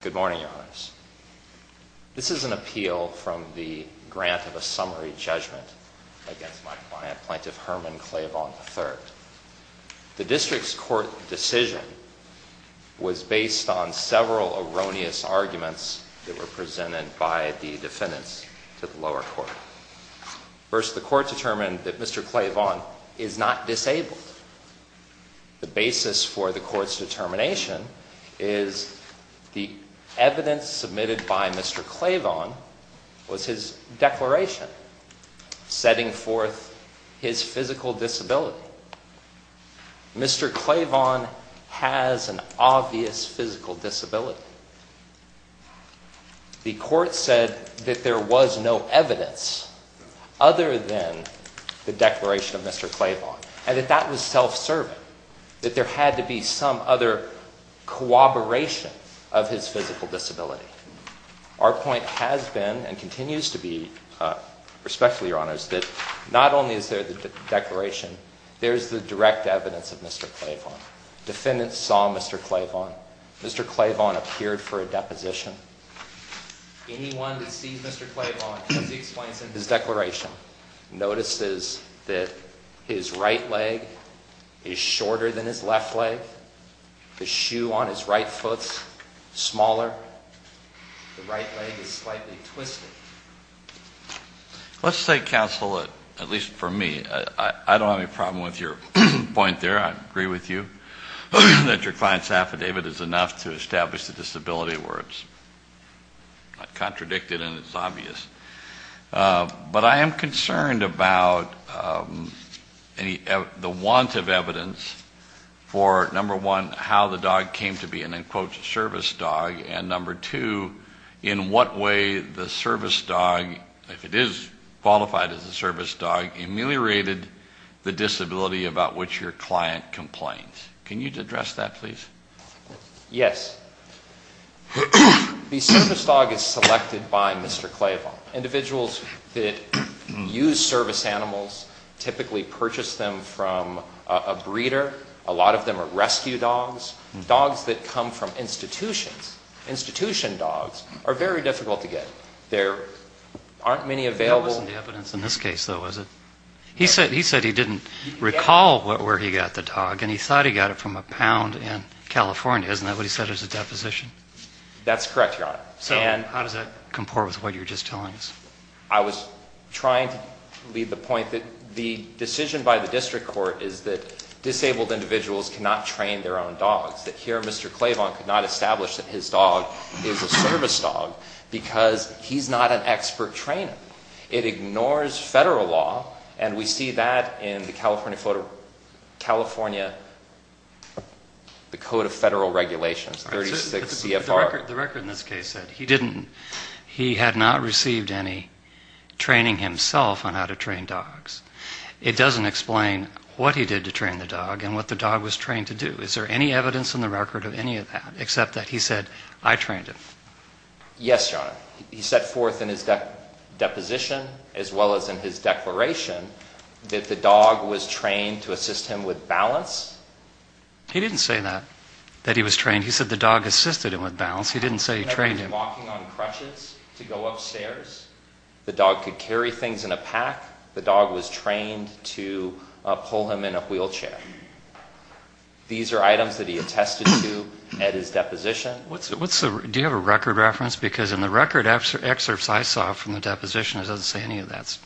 Good morning, Your Honors. This is an appeal from the grant of a summary judgment against my client, Plaintiff Herman Clavon, III. The district's court decision was based on several erroneous arguments that were presented by the defendants to the lower court. First, the court determined that Mr. Clavon is not disabled. The basis for the court's determination is the evidence submitted by Mr. Clavon was his declaration setting forth his physical disability. Mr. Clavon has an obvious physical disability. The court said that there was no evidence other than the declaration of Mr. Clavon and that that was self-serving, that there had to be some other corroboration of his physical disability. Our point has been and continues to be, respectfully, Your Honors, that not only is there the declaration, there's the direct evidence of Mr. Clavon. The right leg is slightly twisted. Let's say, counsel, at least for me, I don't have any problem with your point there. I agree with you that your client's affidavit is enough to establish the disability where it's not contradicted and it's obvious. But I am concerned about the want of evidence for, number one, how the dog came to be an, in quotes, service dog, and number two, in what way the service dog, if it is qualified as a service dog, ameliorated the disability about which your client complains. Can you address that, please? Yes. The service dog is selected by Mr. Clavon. Individuals that use service animals typically purchase them from a breeder. A lot of them are rescue dogs. Dogs that come from institutions, institution dogs, are very difficult to get. There aren't many available. That wasn't the evidence in this case, though, was it? He said he didn't recall where he got the dog, and he thought he got it from a pound in California. Isn't that what he said as a deposition? That's correct, Your Honor. And how does that comport with what you were just telling us? I was trying to leave the point that the decision by the district court is that disabled individuals cannot train their own dogs, that here Mr. Clavon could not establish that his dog is a service dog because he's not an expert trainer. It ignores federal law, and we see that in the California Code of Federal Regulations, 36 CFR. The record in this case said he didn't, he had not received any training himself on how to train dogs. It doesn't explain what he did to train the dog and what the dog was trained to do. Is there any evidence in the record of any of that except that he said, I trained it? Yes, Your Honor. He set forth in his deposition as well as in his declaration that the dog was trained to assist him with balance. He didn't say that, that he was trained. He said the dog assisted him with balance. He didn't say he trained him. He was walking on crutches to go upstairs. The dog could carry things in a pack. The dog was trained to pull him in a wheelchair. These are items that he attested to at his deposition. Do you have a record reference? Because in the record excerpts I saw from the deposition, it doesn't say any of that.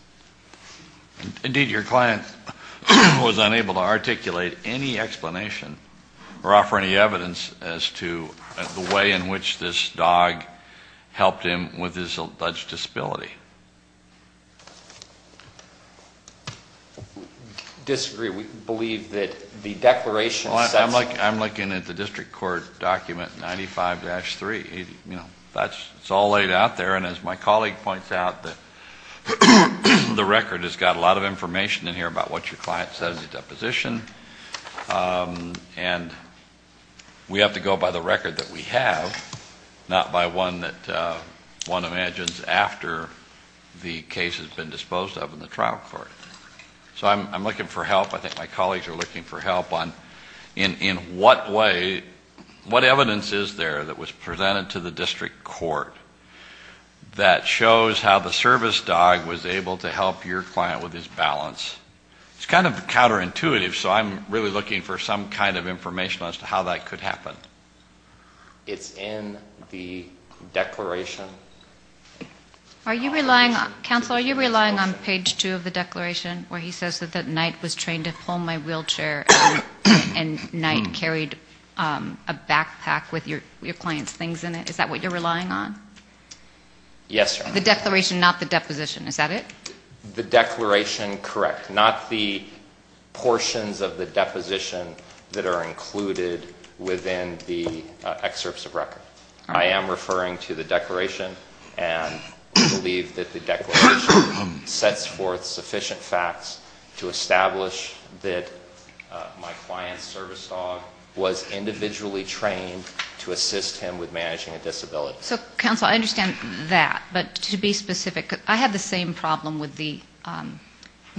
Indeed, your client was unable to articulate any explanation or offer any evidence as to the way in which this dog helped him with his alleged disability. Disagree. We believe that the declaration says- I'm looking at the district court document 95-3. It's all laid out there. And as my colleague points out, the record has got a lot of information in here about what your client said at the deposition. And we have to go by the record that we have, not by one that one imagines after the case has been disposed of in the trial court. So I'm looking for help. I think my colleagues are looking for help on in what way, what evidence is there that was presented to the district court that shows how the service dog was able to help your client with his balance? It's kind of counterintuitive, so I'm really looking for some kind of information as to how that could happen. It's in the declaration. Counsel, are you relying on page 2 of the declaration where he says that Knight was trained to pull my wheelchair and Knight carried a backpack with your client's things in it? Is that what you're relying on? Yes, Your Honor. The declaration, not the deposition. Is that it? The declaration, correct. Not the portions of the deposition that are included within the excerpts of record. I am referring to the declaration, and we believe that the declaration sets forth sufficient facts to establish that my client's service dog was individually trained to assist him with managing a disability. So, counsel, I understand that, but to be specific, I have the same problem with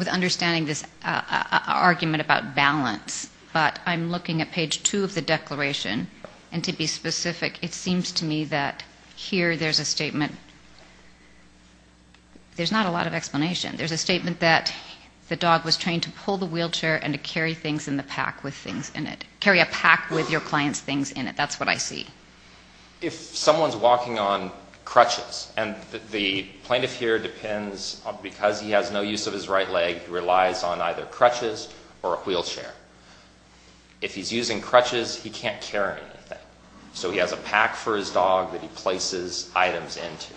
understanding this argument about balance, but I'm looking at page 2 of the declaration, and to be specific, it seems to me that here there's a statement. There's not a lot of explanation. There's a statement that the dog was trained to pull the wheelchair and to carry things in the pack with things in it, carry a pack with your client's things in it. That's what I see. If someone's walking on crutches, and the plaintiff here depends, because he has no use of his right leg, he relies on either crutches or a wheelchair. If he's using crutches, he can't carry anything, so he has a pack for his dog that he places items into.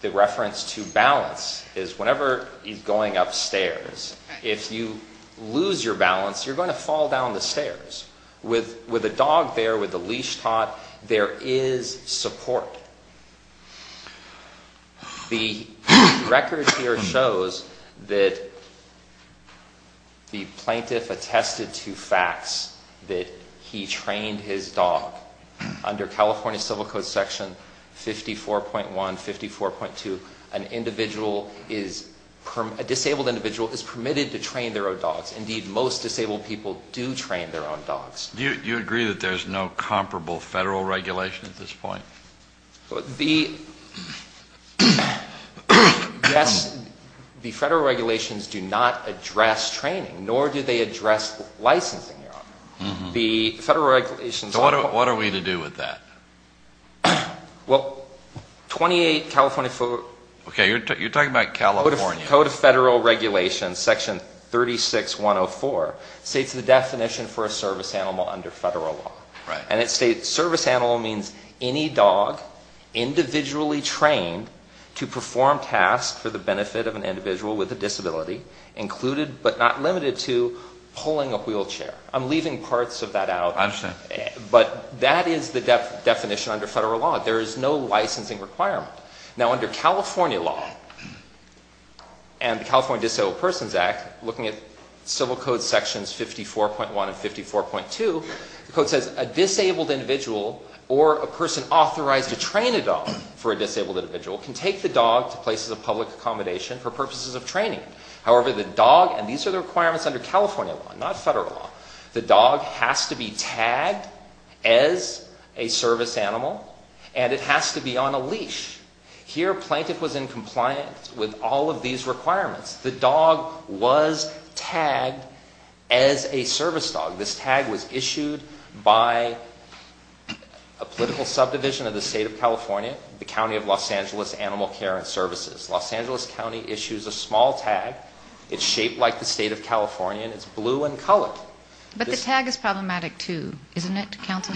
The reference to balance is whenever he's going upstairs, if you lose your balance, you're going to fall down the stairs. With a dog there, with a leash taught, there is support. The record here shows that the plaintiff attested to facts that he trained his dog under California Civil Code Section 54.1, 54.2. An individual is, a disabled individual is permitted to train their own dogs. Indeed, most disabled people do train their own dogs. Do you agree that there's no comparable federal regulation at this point? The federal regulations do not address training, nor do they address licensing, Your Honor. So what are we to do with that? Well, 28 California... Okay, you're talking about California. Code of Federal Regulations, Section 36.104, states the definition for a service animal under federal law. And it states service animal means any dog individually trained to perform tasks for the benefit of an individual with a disability, included but not limited to pulling a wheelchair. I'm leaving parts of that out. I understand. But that is the definition under federal law. There is no licensing requirement. Now, under California law and the California Disabled Persons Act, looking at Civil Code Sections 54.1 and 54.2, the code says a disabled individual or a person authorized to train a dog for a disabled individual can take the dog to places of public accommodation for purposes of training. However, the dog, and these are the requirements under California law, not federal law, the dog has to be tagged as a service animal, and it has to be on a leash. Here, Plaintiff was in compliance with all of these requirements. The dog was tagged as a service dog. This tag was issued by a political subdivision of the State of California, the County of Los Angeles Animal Care and Services. Los Angeles County issues a small tag. It's shaped like the State of California, and it's blue in color. But the tag is problematic, too, isn't it, Counsel?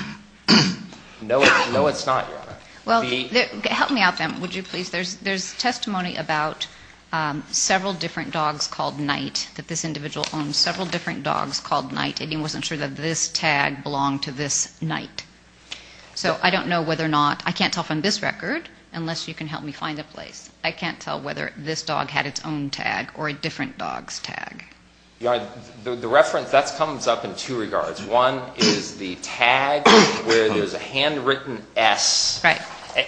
No, it's not, Your Honor. Well, help me out then, would you please? There's testimony about several different dogs called Night, that this individual owned several different dogs called Night, and he wasn't sure that this tag belonged to this Night. So I don't know whether or not, I can't tell from this record, unless you can help me find a place, I can't tell whether this dog had its own tag or a different dog's tag. Your Honor, the reference, that comes up in two regards. One is the tag where there's a handwritten S. Right.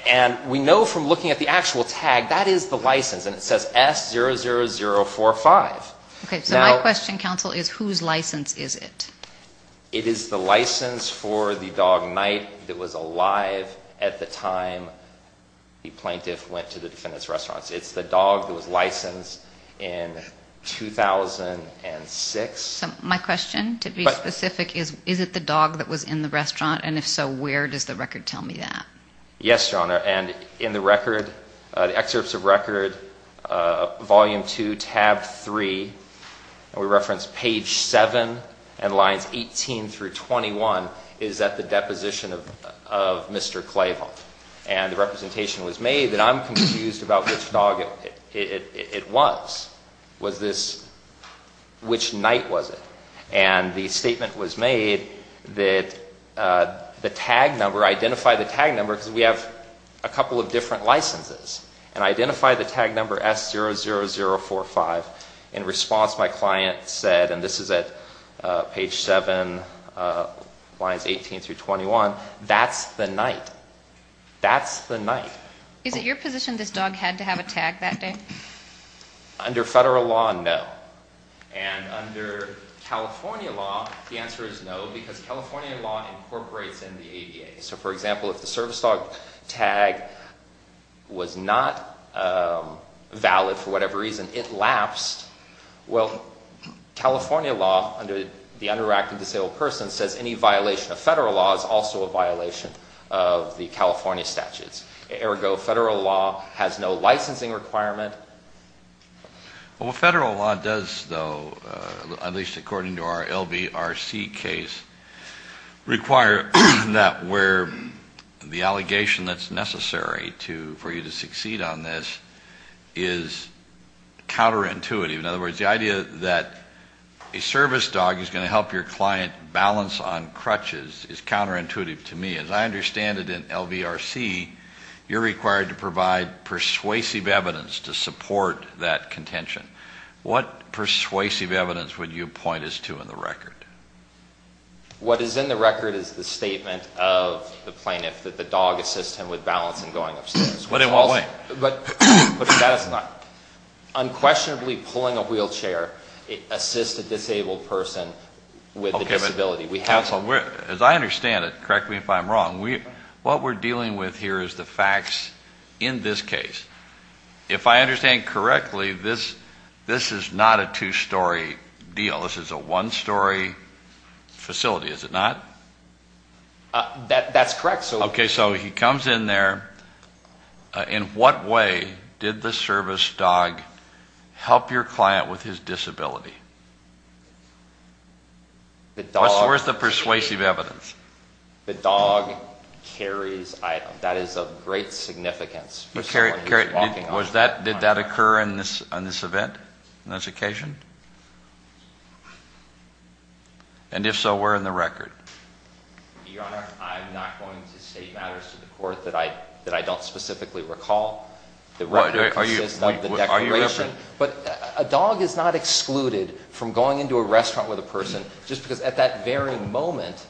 And we know from looking at the actual tag, that is the license, and it says S00045. Okay, so my question, Counsel, is whose license is it? It is the license for the dog Night that was alive at the time the plaintiff went to the defendant's restaurant. It's the dog that was licensed in 2006. So my question, to be specific, is, is it the dog that was in the restaurant? And if so, where does the record tell me that? Yes, Your Honor. And in the record, the excerpts of record, Volume 2, Tab 3, and we reference Page 7 and Lines 18 through 21, is that the deposition of Mr. Clayvon. And the representation was made that I'm confused about which dog it was. Was this, which Night was it? And the statement was made that the tag number, identify the tag number, because we have a couple of different licenses, and identify the tag number S00045. In response, my client said, and this is at Page 7, Lines 18 through 21, that's the Night. That's the Night. Is it your position this dog had to have a tag that day? Under federal law, no. And under California law, the answer is no, because California law incorporates in the ADA. So, for example, if the service dog tag was not valid for whatever reason, it lapsed. Well, California law, under the under-acting disabled person, says any violation of federal law is also a violation of the California statutes. Ergo, federal law has no licensing requirement. Well, federal law does, though, at least according to our LVRC case, require that where the allegation that's necessary for you to succeed on this is counterintuitive. In other words, the idea that a service dog is going to help your client balance on crutches is counterintuitive to me. As I understand it in LVRC, you're required to provide persuasive evidence to support that contention. What persuasive evidence would you point us to in the record? What is in the record is the statement of the plaintiff that the dog assists him with balance and going upstairs. But in what way? But the status is not. Unquestionably pulling a wheelchair assists a disabled person with a disability. Counsel, as I understand it, correct me if I'm wrong, what we're dealing with here is the facts in this case. If I understand correctly, this is not a two-story deal. This is a one-story facility, is it not? That's correct. Okay, so he comes in there. In what way did the service dog help your client with his disability? Where's the persuasive evidence? The dog carries items. That is of great significance. Did that occur in this event, in this occasion? And if so, where in the record? Your Honor, I'm not going to state matters to the court that I don't specifically recall. The record consists of the declaration. But a dog is not excluded from going into a restaurant with a person just because at that very moment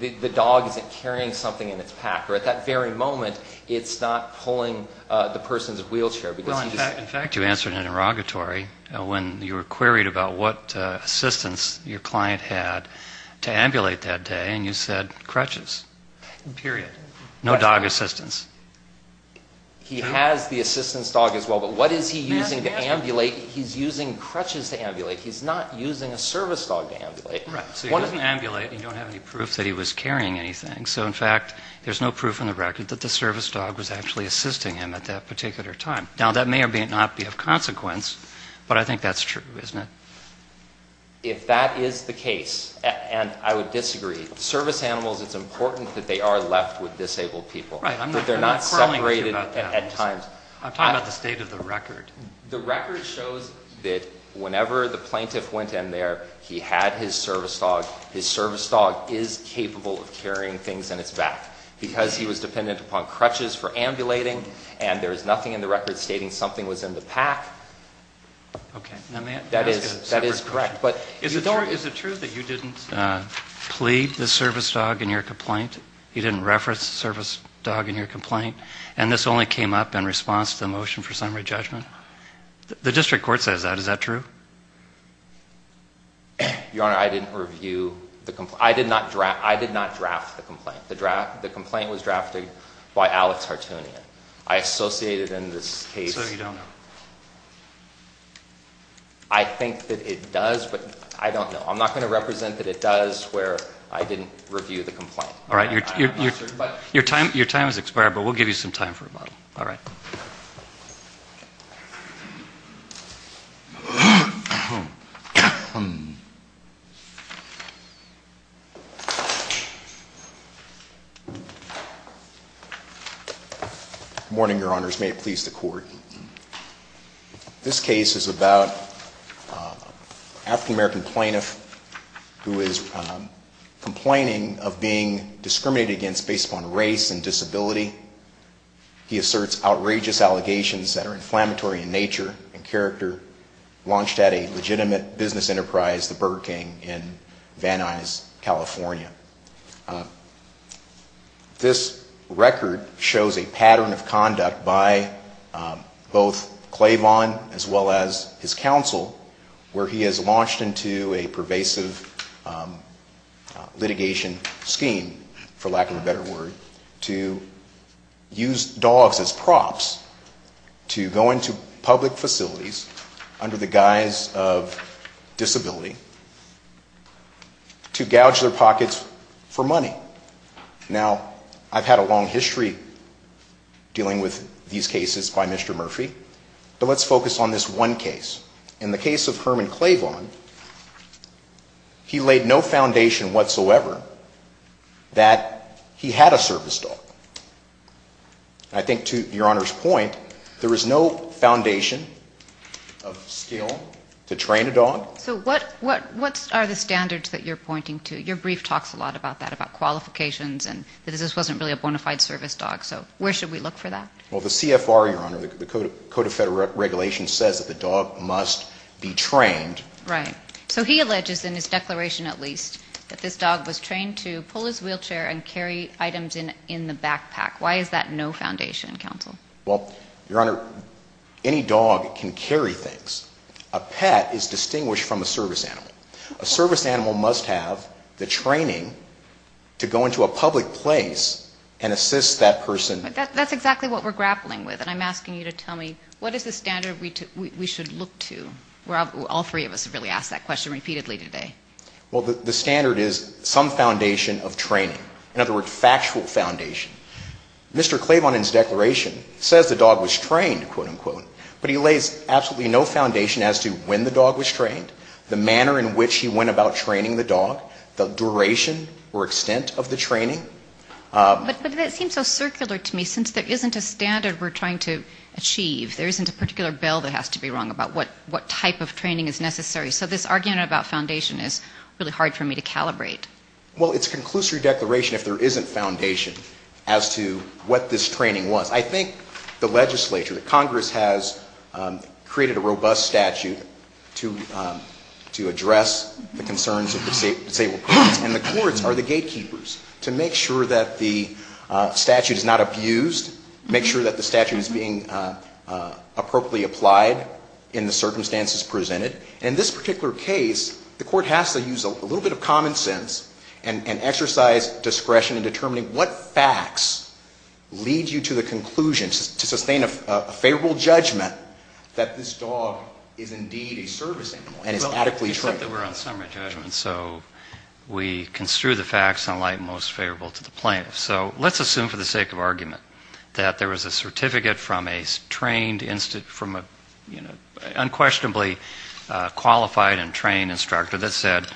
the dog isn't carrying something in its pack. Or at that very moment it's not pulling the person's wheelchair. In fact, you answered in an inauguratory when you were queried about what assistance your client had to ambulate that day, and you said crutches. Period. No dog assistance. He has the assistance dog as well, but what is he using to ambulate? He's using crutches to ambulate. He's not using a service dog to ambulate. Right. So he doesn't ambulate and you don't have any proof that he was carrying anything. So, in fact, there's no proof in the record that the service dog was actually assisting him at that particular time. Now, that may or may not be of consequence, but I think that's true, isn't it? If that is the case, and I would disagree, service animals, it's important that they are left with disabled people. Right. They're not separated at times. I'm talking about the state of the record. The record shows that whenever the plaintiff went in there, he had his service dog. His service dog is capable of carrying things in its back because he was dependent upon crutches for ambulating, and there is nothing in the record stating something was in the pack. Okay. That is correct. Is it true that you didn't plead the service dog in your complaint? You didn't reference the service dog in your complaint? And this only came up in response to the motion for summary judgment? The district court says that. Is that true? Your Honor, I didn't review the complaint. I did not draft the complaint. The complaint was drafted by Alex Hartunian. I associated in this case. So you don't know. I think that it does, but I don't know. I'm not going to represent that it does where I didn't review the complaint. All right. Your time has expired, but we'll give you some time for rebuttal. All right. Good morning, Your Honors. May it please the Court. This case is about an African-American plaintiff who is complaining of being discriminated against based upon race and disability. He asserts outrageous allegations that are inflammatory in nature and character, launched at a legitimate business enterprise, the Burger King, in Van Nuys, California. This record shows a pattern of conduct by both Claiborne, as well as his counsel, where he has launched into a pervasive litigation scheme, for lack of a better word, to use dogs as props to go into public facilities under the guise of disability, to gouge their pockets for money. Now, I've had a long history dealing with these cases by Mr. Murphy, but let's focus on this one case. In the case of Herman Claiborne, he laid no foundation whatsoever that he had a service dog. I think, to Your Honor's point, there is no foundation of skill to train a dog. So what are the standards that you're pointing to? Your brief talks a lot about that, about qualifications, and that this wasn't really a bona fide service dog. So where should we look for that? Well, the CFR, Your Honor, the Code of Federal Regulations, says that the dog must be trained. Right. So he alleges, in his declaration at least, that this dog was trained to pull his wheelchair and carry items in the backpack. Why is that no foundation, counsel? Well, Your Honor, any dog can carry things. A pet is distinguished from a service animal. A service animal must have the training to go into a public place and assist that person. But that's exactly what we're grappling with. And I'm asking you to tell me, what is the standard we should look to? All three of us have really asked that question repeatedly today. Well, the standard is some foundation of training, in other words, factual foundation. Mr. Claiborne, in his declaration, says the dog was trained, quote, unquote. But he lays absolutely no foundation as to when the dog was trained, the manner in which he went about training the dog, the duration or extent of the training. But that seems so circular to me. Since there isn't a standard we're trying to achieve, there isn't a particular bill that has to be wrong about what type of training is necessary. So this argument about foundation is really hard for me to calibrate. Well, it's a conclusory declaration if there isn't foundation as to what this training was. I think the legislature, the Congress, has created a robust statute to address the concerns of disabled courts. And the courts are the gatekeepers to make sure that the statute is not abused, make sure that the statute is being appropriately applied in the circumstances presented. And in this particular case, the court has to use a little bit of common sense and exercise discretion in determining what facts lead you to the conclusion, to sustain a favorable judgment that this dog is indeed a service animal and is adequately trained. Well, except that we're on summary judgment. So we construe the facts in light most favorable to the plaintiff. So let's assume for the sake of argument that there was a certificate from a trained, unquestionably qualified and trained instructor that said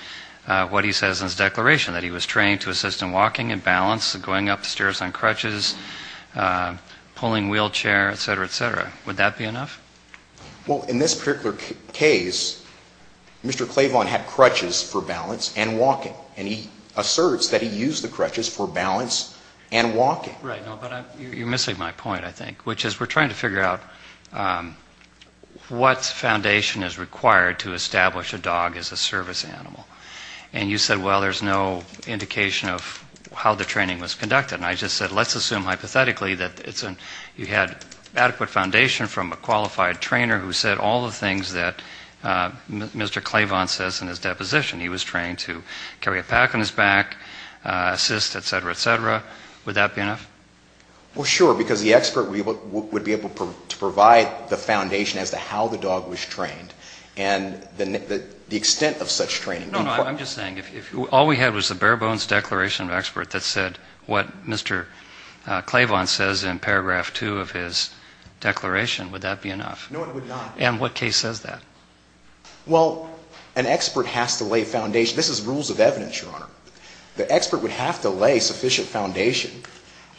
what he says in his declaration, that he was trained to assist in walking and balance, going upstairs on crutches, pulling wheelchair, et cetera, et cetera. Would that be enough? Well, in this particular case, Mr. Claiborne had crutches for balance and walking. And he asserts that he used the crutches for balance and walking. Right. No, but you're missing my point, I think, which is we're trying to figure out what foundation is required to establish a dog as a service animal. And you said, well, there's no indication of how the training was conducted. And I just said let's assume hypothetically that you had adequate foundation from a qualified trainer who said all the things that Mr. Claiborne says in his deposition. He was trained to carry a pack on his back, assist, et cetera, et cetera. Would that be enough? Well, sure, because the expert would be able to provide the foundation as to how the dog was trained and the extent of such training. No, no, I'm just saying if all we had was a bare-bones declaration of expert that said what Mr. Claiborne says in paragraph 2 of his declaration, would that be enough? No, it would not. And what case says that? Well, an expert has to lay foundation. This is rules of evidence, Your Honor. The expert would have to lay sufficient foundation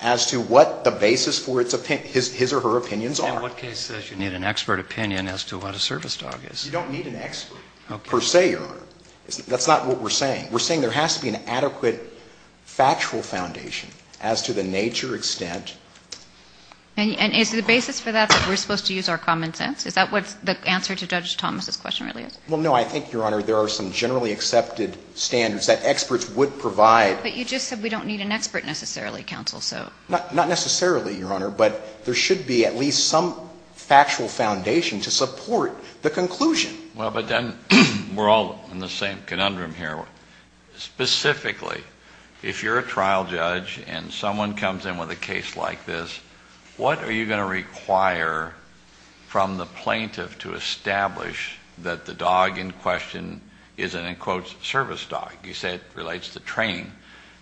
as to what the basis for his or her opinions are. And what case says you need an expert opinion as to what a service dog is? You don't need an expert per se, Your Honor. That's not what we're saying. We're saying there has to be an adequate factual foundation as to the nature, extent. And is the basis for that that we're supposed to use our common sense? Is that what the answer to Judge Thomas' question really is? Well, no, I think, Your Honor, there are some generally accepted standards that experts would provide. But you just said we don't need an expert necessarily, counsel, so. Not necessarily, Your Honor, but there should be at least some factual foundation to support the conclusion. Well, but then we're all in the same conundrum here. Specifically, if you're a trial judge and someone comes in with a case like this, what are you going to require from the plaintiff to establish that the dog in question is an, in quotes, service dog? You said it relates to training.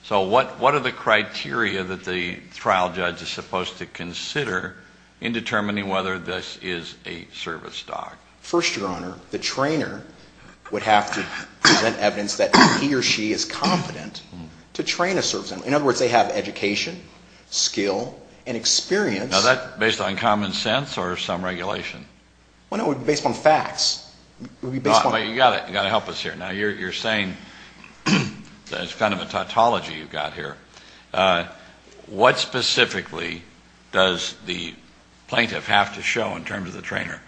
So what are the criteria that the trial judge is supposed to consider in determining whether this is a service dog? First, Your Honor, the trainer would have to present evidence that he or she is competent to train a service dog. In other words, they have education, skill, and experience. Now, is that based on common sense or some regulation? Well, no, it would be based on facts. It would be based on facts. But you've got to help us here. Now, you're saying that it's kind of a tautology you've got here. What specifically does the plaintiff have to show in terms of the trainer?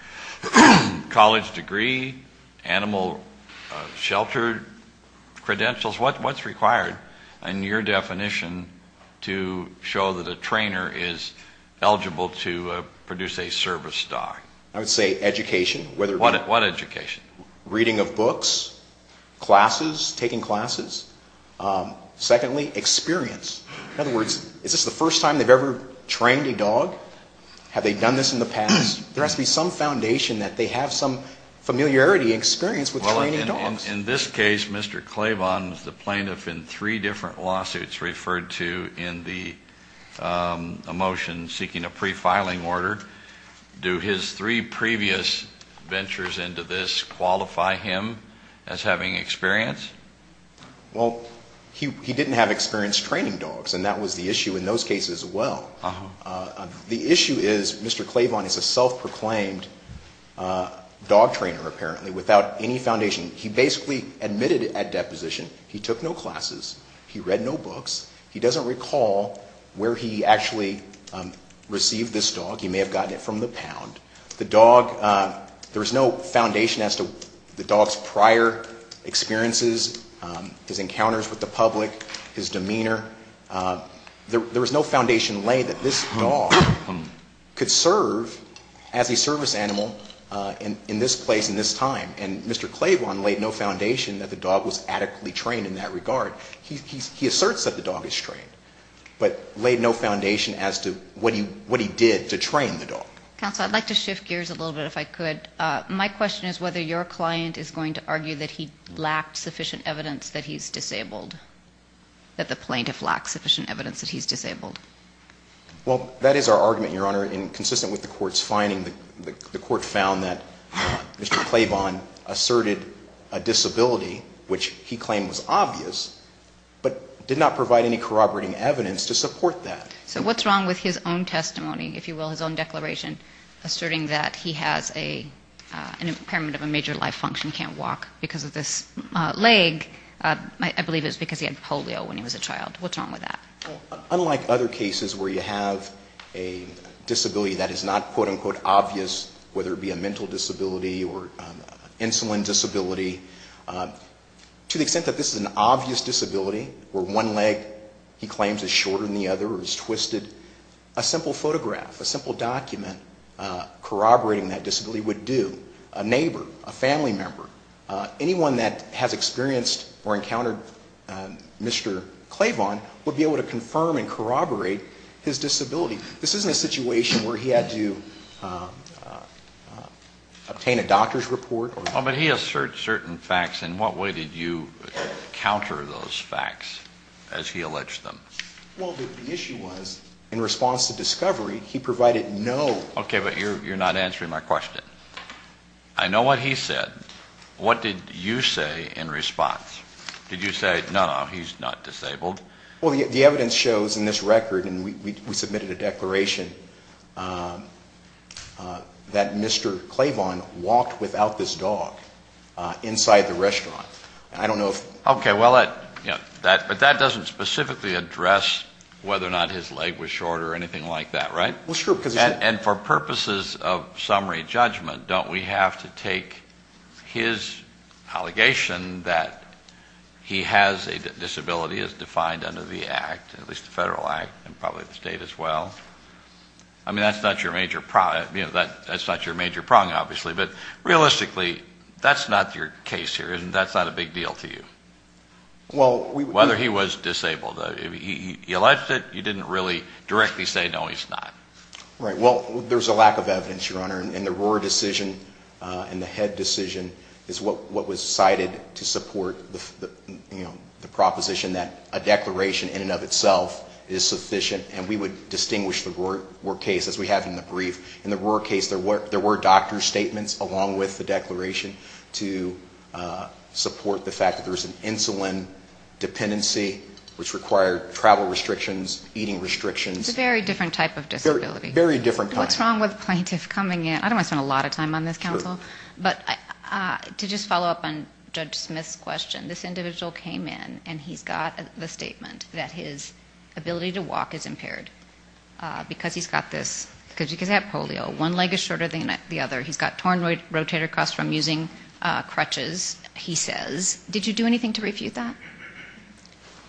College degree? Animal shelter credentials? What's required in your definition to show that a trainer is eligible to produce a service dog? I would say education. What education? Reading of books, classes, taking classes. Secondly, experience. In other words, is this the first time they've ever trained a dog? Have they done this in the past? There has to be some foundation that they have some familiarity and experience with training dogs. In this case, Mr. Claibon is the plaintiff in three different lawsuits referred to in the motion seeking a pre-filing order. Do his three previous ventures into this qualify him as having experience? Well, he didn't have experience training dogs, and that was the issue in those cases as well. The issue is Mr. Claibon is a self-proclaimed dog trainer, apparently, without any foundation. He basically admitted at deposition he took no classes, he read no books, he doesn't recall where he actually received this dog. He may have gotten it from the pound. The dog, there was no foundation as to the dog's prior experiences, his encounters with the public, his demeanor. There was no foundation laid that this dog could serve as a service animal in this place in this time. And Mr. Claibon laid no foundation that the dog was adequately trained in that regard. He asserts that the dog is trained, but laid no foundation as to what he did to train the dog. Counsel, I'd like to shift gears a little bit if I could. My question is whether your client is going to argue that he lacked sufficient evidence that he's disabled, that the plaintiff lacked sufficient evidence that he's disabled. Well, that is our argument, Your Honor, and consistent with the court's finding, the court found that Mr. Claibon asserted a disability, which he claimed was obvious, but did not provide any corroborating evidence to support that. So what's wrong with his own testimony, if you will, his own declaration, asserting that he has an impairment of a major life function, can't walk because of this leg? I believe it was because he had polio when he was a child. What's wrong with that? Well, unlike other cases where you have a disability that is not, quote, unquote, obvious, whether it be a mental disability or insulin disability, to the extent that this is an obvious disability where one leg, he claims, is shorter than the other or is twisted, a simple photograph, a simple document corroborating that disability would do. A neighbor, a family member, anyone that has experienced or encountered Mr. Claibon would be able to confirm and corroborate his disability. This isn't a situation where he had to obtain a doctor's report. But he asserted certain facts. In what way did you counter those facts as he alleged them? Well, the issue was, in response to discovery, he provided no. Okay, but you're not answering my question. I know what he said. What did you say in response? Did you say, no, no, he's not disabled? Well, the evidence shows in this record, and we submitted a declaration, that Mr. Claibon walked without this dog inside the restaurant. I don't know if. Okay, well, that doesn't specifically address whether or not his leg was short or anything like that, right? Well, it's true. And for purposes of summary judgment, don't we have to take his allegation that he has a disability as defined under the act, at least the federal act, and probably the state as well? I mean, that's not your major problem, obviously. But realistically, that's not your case here, isn't it? That's not a big deal to you. Whether he was disabled. He alleged it. You didn't really directly say, no, he's not. Right. Well, there's a lack of evidence, Your Honor. And the Rohrer decision and the Head decision is what was cited to support the proposition that a declaration in and of itself is sufficient. And we would distinguish the Rohrer case, as we have in the brief. In the Rohrer case, there were doctor's statements along with the declaration to support the fact that there was an insulin dependency, which required travel restrictions, eating restrictions. It's a very different type of disability. Very different kind. What's wrong with a plaintiff coming in? I don't want to spend a lot of time on this, counsel. But to just follow up on Judge Smith's question, this individual came in, and he's got the statement that his ability to walk is impaired because he's got this. Because he's got polio. One leg is shorter than the other. He's got torn rotator cuffs from using crutches, he says. Did you do anything to refute that?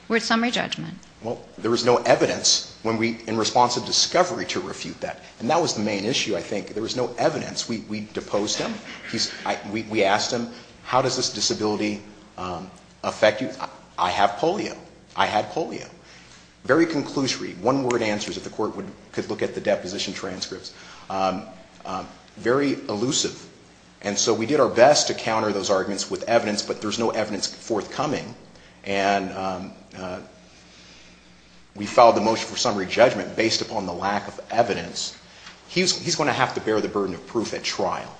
Word summary judgment. Well, there was no evidence in response to discovery to refute that. And that was the main issue, I think. There was no evidence. We deposed him. We asked him, how does this disability affect you? I have polio. I had polio. Very conclusory, one-word answers that the court could look at the deposition transcripts. Very elusive. And so we did our best to counter those arguments with evidence, but there's no evidence forthcoming. And we filed the motion for summary judgment based upon the lack of evidence. He's going to have to bear the burden of proof at trial.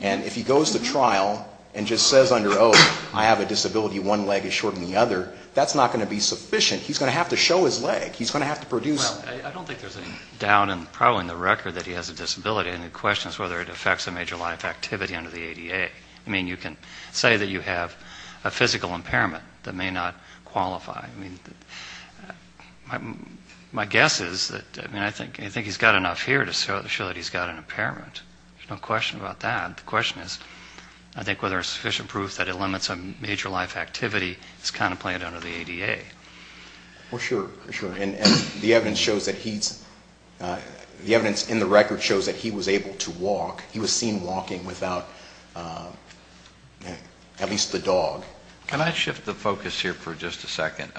And if he goes to trial and just says under oath, I have a disability, one leg is shorter than the other, that's not going to be sufficient. He's going to have to show his leg. He's going to have to produce. I don't think there's any doubt, probably in the record, that he has a disability. And the question is whether it affects a major life activity under the ADA. I mean, you can say that you have a physical impairment that may not qualify. I mean, my guess is that, I mean, I think he's got enough here to show that he's got an impairment. There's no question about that. The question is, I think, whether there's sufficient proof that it limits a major life activity is contemplated under the ADA. Well, sure, sure. And the evidence shows that he's – the evidence in the record shows that he was able to walk. He was seen walking without at least the dog. Can I shift the focus here for just a second?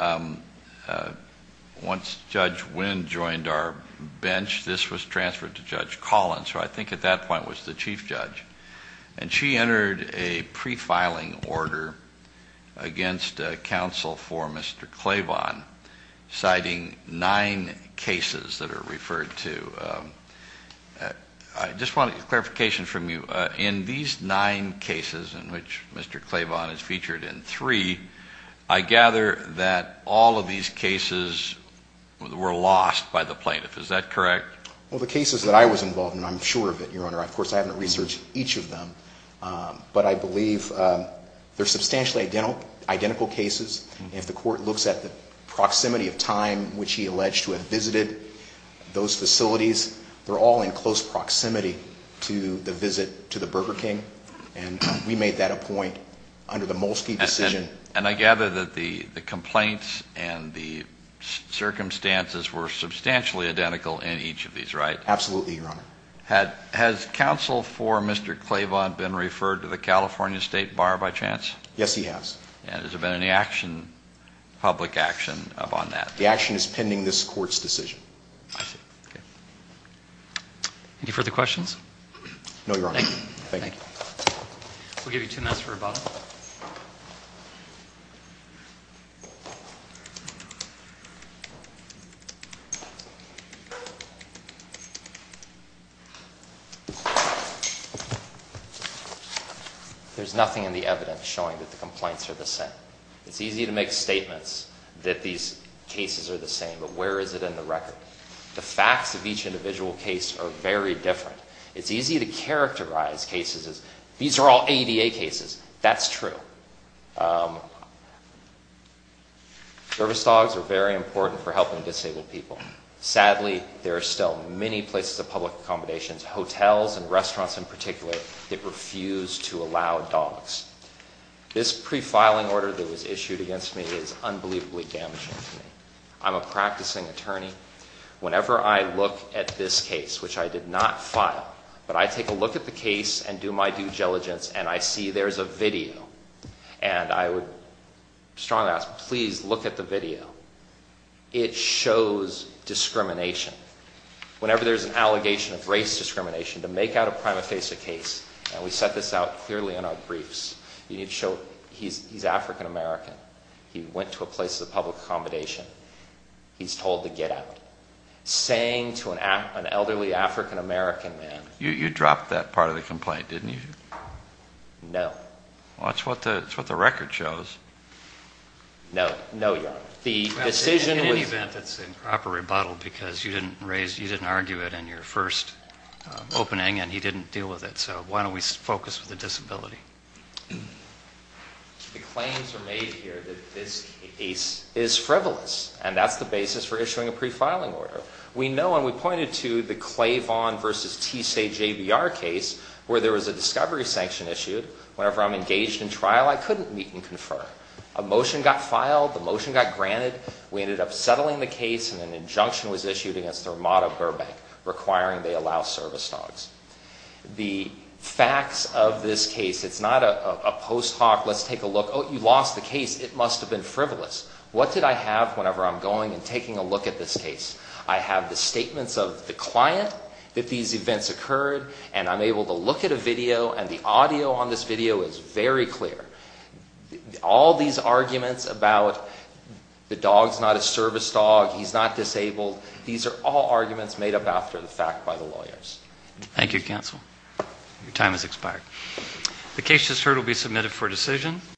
Once Judge Wynn joined our bench, this was transferred to Judge Collins, who I think at that point was the chief judge. And she entered a prefiling order against counsel for Mr. Claiborne, citing nine cases that are referred to. I just want clarification from you. In these nine cases, in which Mr. Claiborne is featured in three, I gather that all of these cases were lost by the plaintiff. Is that correct? Well, the cases that I was involved in, I'm sure of it, Your Honor. Of course, I haven't researched each of them. But I believe they're substantially identical cases. If the court looks at the proximity of time which he alleged to have visited those facilities, they're all in close proximity to the visit to the Burger King. And we made that a point under the Molesky decision. And I gather that the complaints and the circumstances were substantially identical in each of these, right? Absolutely, Your Honor. Has counsel for Mr. Claiborne been referred to the California State Bar by chance? Yes, he has. And has there been any action, public action, upon that? The action is pending this court's decision. I see. Okay. Any further questions? No, Your Honor. Thank you. Thank you. We'll give you two minutes for rebuttal. There's nothing in the evidence showing that the complaints are the same. It's easy to make statements that these cases are the same, but where is it in the record? The facts of each individual case are very different. It's easy to characterize cases as, these are all ADA cases. That's true. Service dogs are very important for helping disabled people. Sadly, there are still many places of public accommodations, hotels and restaurants in particular, that refuse to allow dogs. This pre-filing order that was issued against me is unbelievably damaging to me. I'm a practicing attorney. Whenever I look at this case, which I did not file, but I take a look at the case and do my due diligence and I see there's a video, and I would strongly ask, please look at the video. It shows discrimination. Whenever there's an allegation of race discrimination, to make out a prima facie case, and we set this out clearly in our briefs, you need to show he's African American. He went to a place of public accommodation. He's told to get out. Saying to an elderly African American man. You dropped that part of the complaint, didn't you? No. Well, that's what the record shows. No. No, Your Honor. In any event, it's improper rebuttal because you didn't argue it in your first opening and he didn't deal with it. So why don't we focus with the disability? The claims are made here that this case is frivolous, and that's the basis for issuing a pre-filing order. We know and we pointed to the Claivon v. TSAJBR case where there was a discovery sanction issued. Whenever I'm engaged in trial, I couldn't meet and confer. A motion got filed. The motion got granted. We ended up settling the case and an injunction was issued against the Ramada Burbank requiring they allow service dogs. The facts of this case, it's not a post hoc, let's take a look. Oh, you lost the case. It must have been frivolous. What did I have whenever I'm going and taking a look at this case? I have the statements of the client that these events occurred, and I'm able to look at a video and the audio on this video is very clear. All these arguments about the dog's not a service dog, he's not disabled, these are all arguments made up after the fact by the lawyers. Thank you, counsel. Your time has expired. The case just heard will be submitted for decision.